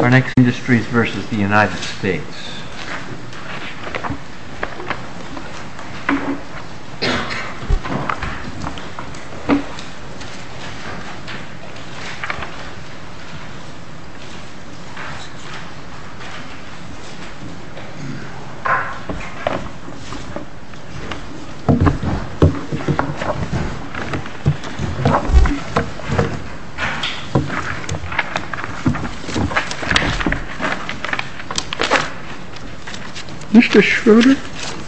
Our next industry is versus the United States. Mr. Schroeder?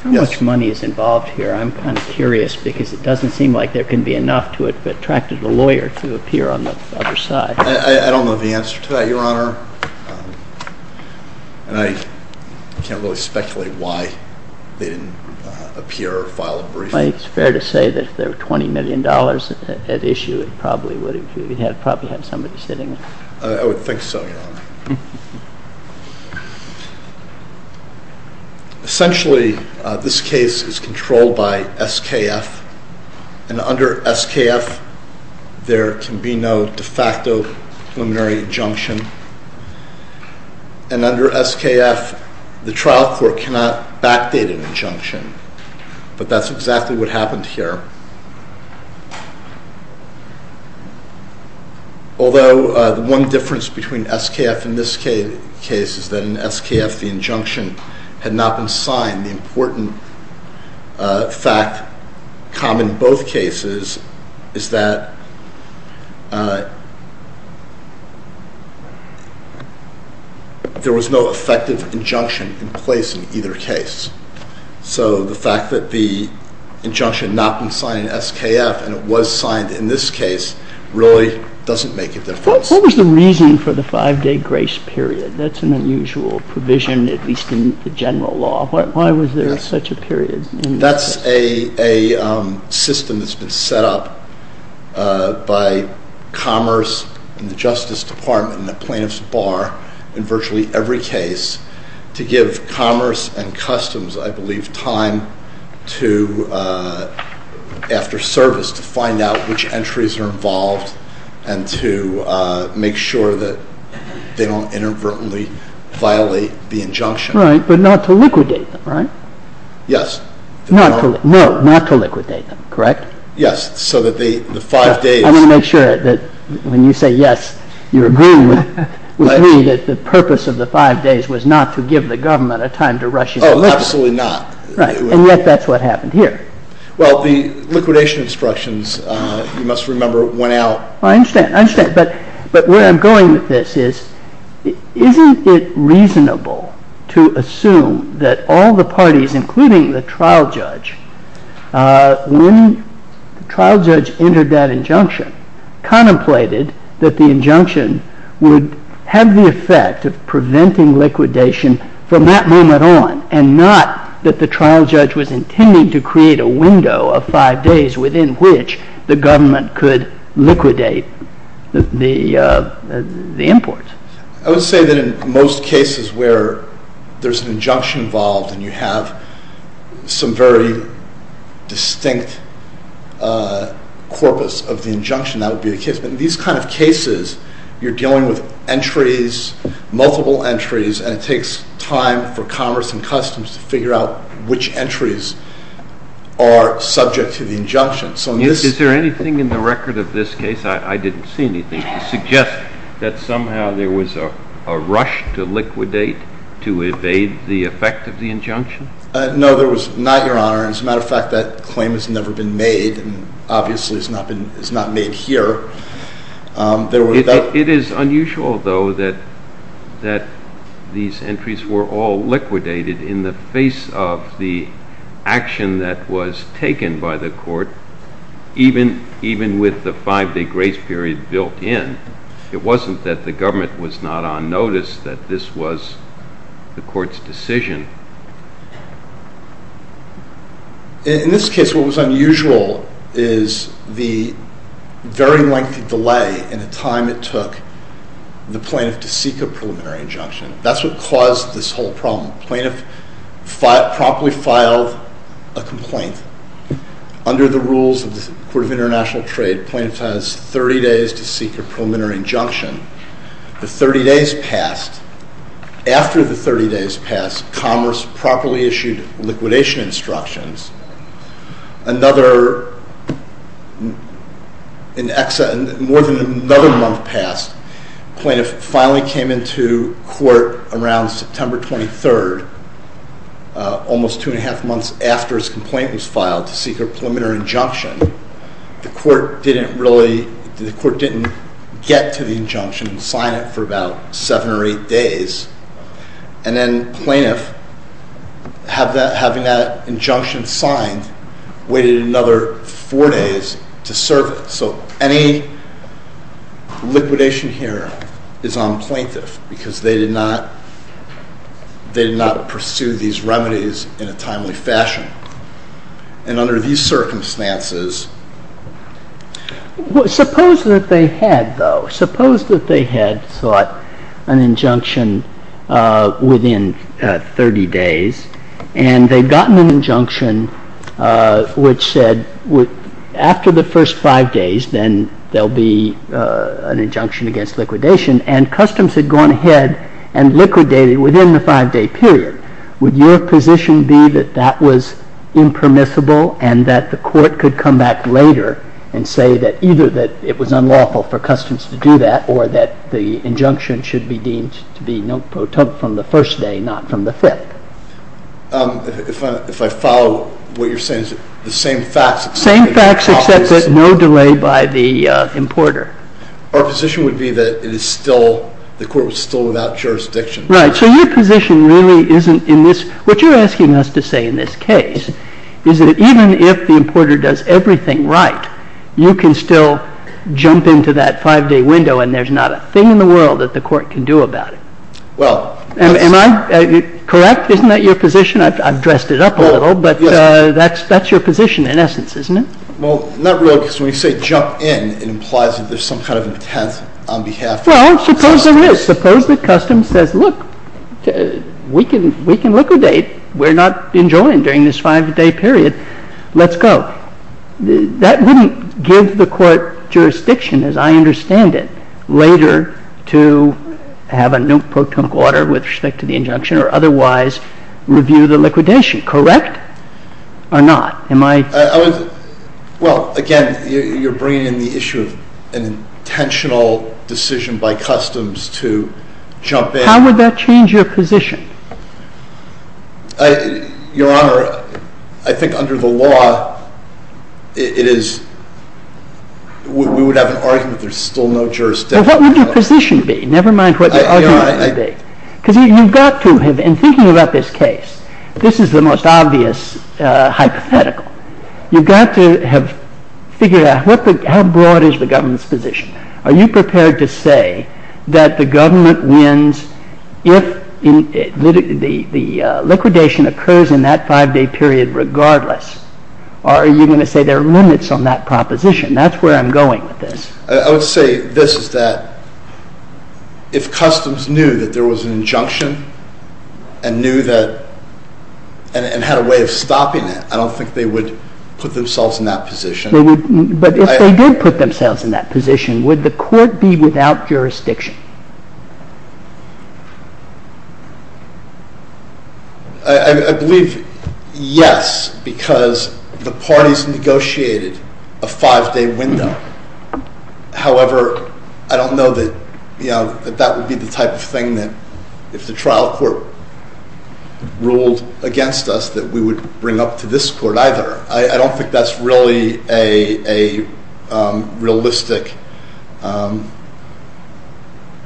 How much money is involved here? I'm kind of curious because it doesn't seem like there can be enough to attract a lawyer to appear on the other side. I don't know the answer to that, Your Honor. And I can't really speculate why they didn't appear or file a briefing. It's fair to say that if there were $20 million at issue, it probably would have had somebody sitting there. I would think so, Your Honor. Essentially, this case is controlled by SKF. And under SKF, there can be no de facto preliminary injunction. And under SKF, the trial court cannot backdate an injunction. But that's exactly what happened here. Although the one difference between SKF and this case is that in SKF the injunction had not been signed, the important fact common in both cases is that there was no effective injunction in place in either case. So the fact that the injunction had not been signed in SKF and it was signed in this case really doesn't make a difference. What was the reason for the five-day grace period? That's an unusual provision, at least in the general law. Why was there such a period? That's a system that's been set up by Commerce and the Justice Department and the Plaintiff's Bar in virtually every case to give Commerce and Customs, I believe, time after service to find out which entries are involved and to make sure that they don't inadvertently violate the injunction. Right, but not to liquidate them, right? Yes. No, not to liquidate them, correct? Yes, so that the five days... I want to make sure that when you say yes, you're agreeing with me that the purpose of the five days was not to give the government a time to rush into liquidation. Oh, absolutely not. Right, and yet that's what happened here. Well, the liquidation instructions, you must remember, went out. I understand, I understand, but where I'm going with this is isn't it reasonable to assume that all the parties, including the trial judge, when the trial judge entered that injunction, contemplated that the injunction would have the effect of preventing liquidation from that moment on and not that the trial judge was intending to create a window of five days within which the government could liquidate the imports. I would say that in most cases where there's an injunction involved and you have some very distinct corpus of the injunction, that would be the case. But in these kind of cases, you're dealing with entries, multiple entries, and it takes time for commerce and customs to figure out which entries are subject to the injunction. Is there anything in the record of this case, I didn't see anything, to suggest that somehow there was a rush to liquidate to evade the effect of the injunction? No, there was not, Your Honor. As a matter of fact, that claim has never been made, and obviously it's not made here. It is unusual, though, that these entries were all liquidated in the face of the action that was taken by the court, even with the five-day grace period built in. It wasn't that the government was not on notice that this was the court's decision. In this case, what was unusual is the very lengthy delay in the time it took the plaintiff to seek a preliminary injunction. That's what caused this whole problem. Plaintiff promptly filed a complaint. Under the rules of the Court of International Trade, plaintiff has 30 days to seek a preliminary injunction. The 30 days passed. After the 30 days passed, commerce properly issued liquidation instructions. More than another month passed. Plaintiff finally came into court around September 23rd, almost two and a half months after his complaint was filed, to seek a preliminary injunction. The court didn't get to the injunction and sign it for about seven or eight days. And then plaintiff, having that injunction signed, waited another four days to serve it. So any liquidation here is on plaintiff because they did not pursue these remedies in a timely fashion. And under these circumstances... Suppose that they had, though, suppose that they had sought an injunction within 30 days and they'd gotten an injunction which said after the first five days, then there'll be an injunction against liquidation, and customs had gone ahead and liquidated within the five-day period. Would your position be that that was impermissible and that the court could come back later and say that either that it was unlawful for customs to do that or that the injunction should be deemed to be not from the first day, not from the fifth? If I follow what you're saying, the same facts... Same facts except that no delay by the importer. Our position would be that it is still, the court was still without jurisdiction. Right. So your position really isn't in this... What you're asking us to say in this case is that even if the importer does everything right, you can still jump into that five-day window and there's not a thing in the world that the court can do about it. Well... Am I correct? Isn't that your position? I've dressed it up a little, but that's your position in essence, isn't it? Well, not really, because when you say jump in, it implies that there's some kind of intent on behalf... Well, suppose there is. Suppose that customs says, look, we can liquidate. We're not enjoying during this five-day period. Let's go. That wouldn't give the court jurisdiction, as I understand it, later to have a no-proton order with respect to the injunction or otherwise review the liquidation. Correct or not? Am I... Well, again, you're bringing in the issue of an intentional decision by customs to jump in... How would that change your position? Your Honor, I think under the law, it is... we would have an argument there's still no jurisdiction. Well, what would your position be, never mind what your argument would be? Your Honor, I... Because you've got to have... in thinking about this case, this is the most obvious hypothetical. You've got to have figured out how broad is the government's position. Are you prepared to say that the government wins if the liquidation occurs in that five-day period regardless? Or are you going to say there are limits on that proposition? That's where I'm going with this. I would say this, is that if customs knew that there was an injunction and knew that... I don't think they would put themselves in that position. But if they did put themselves in that position, would the court be without jurisdiction? I believe yes, because the parties negotiated a five-day window. However, I don't know that that would be the type of thing that if the trial court ruled against us, that we would bring up to this court either. I don't think that's really a realistic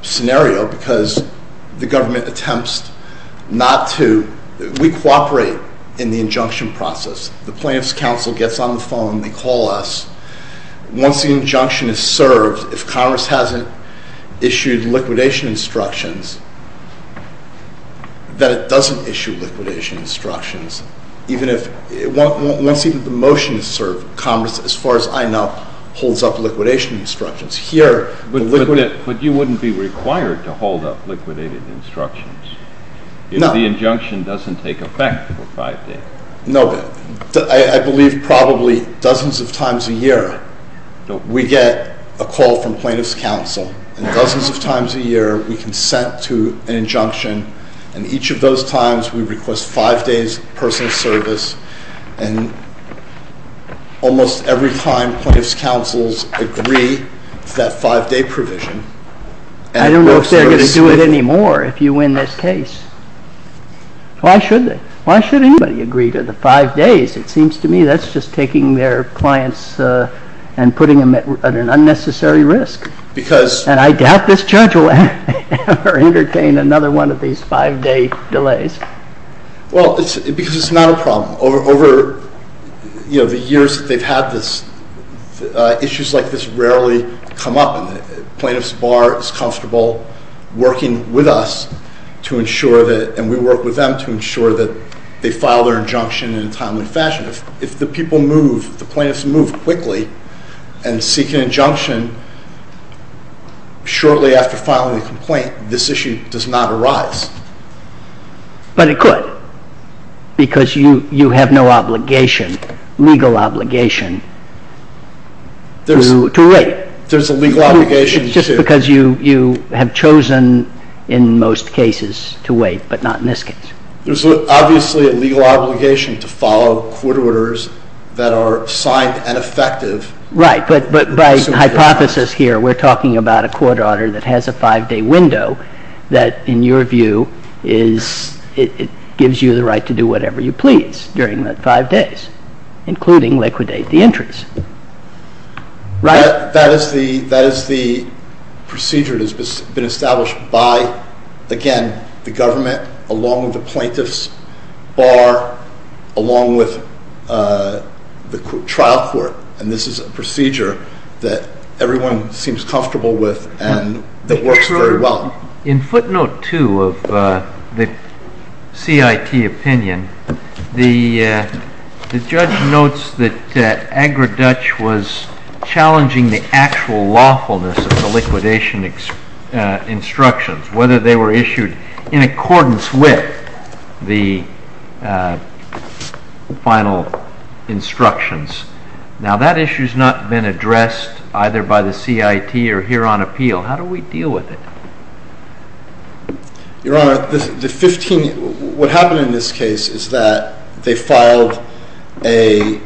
scenario because the government attempts not to... we cooperate in the injunction process. The plaintiff's counsel gets on the phone, they call us. Once the injunction is served, if Congress hasn't issued liquidation instructions, then it doesn't issue liquidation instructions. Once even the motion is served, Congress, as far as I know, holds up liquidation instructions. But you wouldn't be required to hold up liquidated instructions if the injunction doesn't take effect for five days. No, but I believe probably dozens of times a year we get a call from plaintiff's counsel. And dozens of times a year we consent to an injunction. And each of those times we request five days of personal service. And almost every time plaintiff's counsels agree to that five-day provision... I don't know if they're going to do it anymore if you win this case. Why should anybody agree to the five days? It seems to me that's just taking their clients and putting them at an unnecessary risk. And I doubt this judge will ever entertain another one of these five-day delays. Well, because it's not a problem. Over the years that they've had this, issues like this rarely come up. And the plaintiff's bar is comfortable working with us to ensure that, and we work with them to ensure that they file their injunction in a timely fashion. If the people move, if the plaintiffs move quickly and seek an injunction shortly after filing the complaint, this issue does not arise. But it could, because you have no obligation, legal obligation, to wait. There's a legal obligation to... Just because you have chosen in most cases to wait, but not in this case. There's obviously a legal obligation to follow court orders that are signed and effective. Right, but by hypothesis here we're talking about a court order that has a five-day window that, in your view, gives you the right to do whatever you please during that five days, including liquidate the interest. Right. That is the procedure that has been established by, again, the government, along with the plaintiff's bar, along with the trial court. And this is a procedure that everyone seems comfortable with and that works very well. In footnote two of the CIT opinion, the judge notes that Agriduch was challenging the actual lawfulness of the liquidation instructions, whether they were issued in accordance with the final instructions. Now, that issue has not been addressed either by the CIT or here on appeal. How do we deal with it? Your Honor, what happened in this case is that they filed a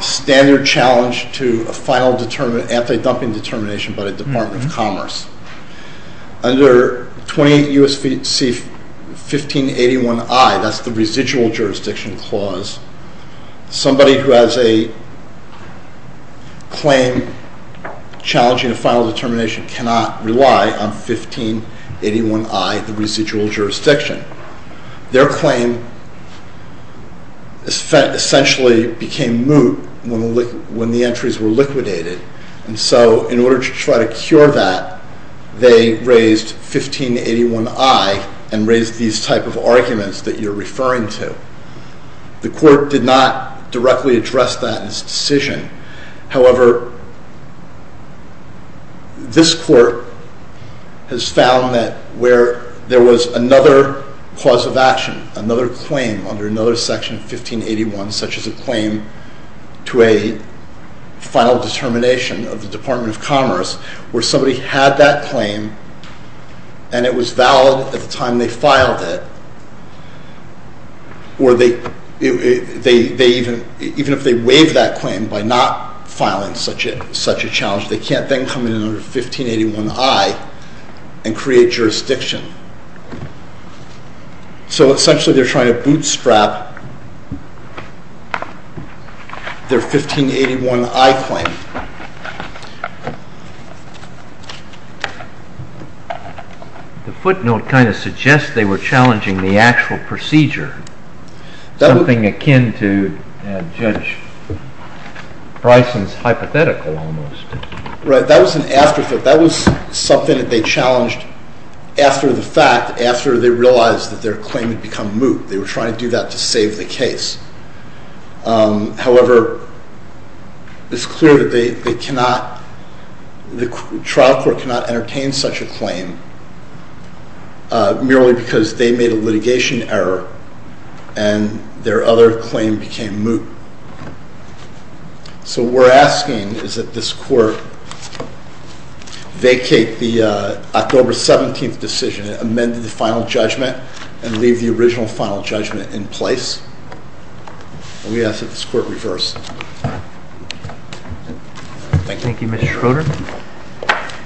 standard challenge to a final anti-dumping determination by the Department of Commerce. Under 20 U.S.C. 1581I, that's the residual jurisdiction clause, somebody who has a claim challenging a final determination cannot rely on 1581I, the residual jurisdiction. Their claim essentially became moot when the entries were liquidated, and so in order to try to cure that, they raised 1581I and raised these type of arguments that you're referring to. The court did not directly address that in its decision. However, this court has found that where there was another cause of action, another claim under another section of 1581, such as a claim to a final determination of the Department of Commerce, where somebody had that claim and it was valid at the time they filed it, or even if they waived that claim by not filing such a challenge, they can't then come in under 1581I and create jurisdiction. So essentially they're trying to bootstrap their 1581I claim. The footnote kind of suggests they were challenging the actual procedure, something akin to Judge Bryson's hypothetical almost. Right. That was an afterthought. That was something that they challenged after the fact, after they realized that their claim had become moot. They were trying to do that to save the case. However, it's clear that the trial court cannot entertain such a claim merely because they made a litigation error and their other claim became moot. So what we're asking is that this court vacate the October 17th decision and amend the final judgment and leave the original final judgment in place. And we ask that this court reverse. Thank you. Thank you, Mr. Schroeder.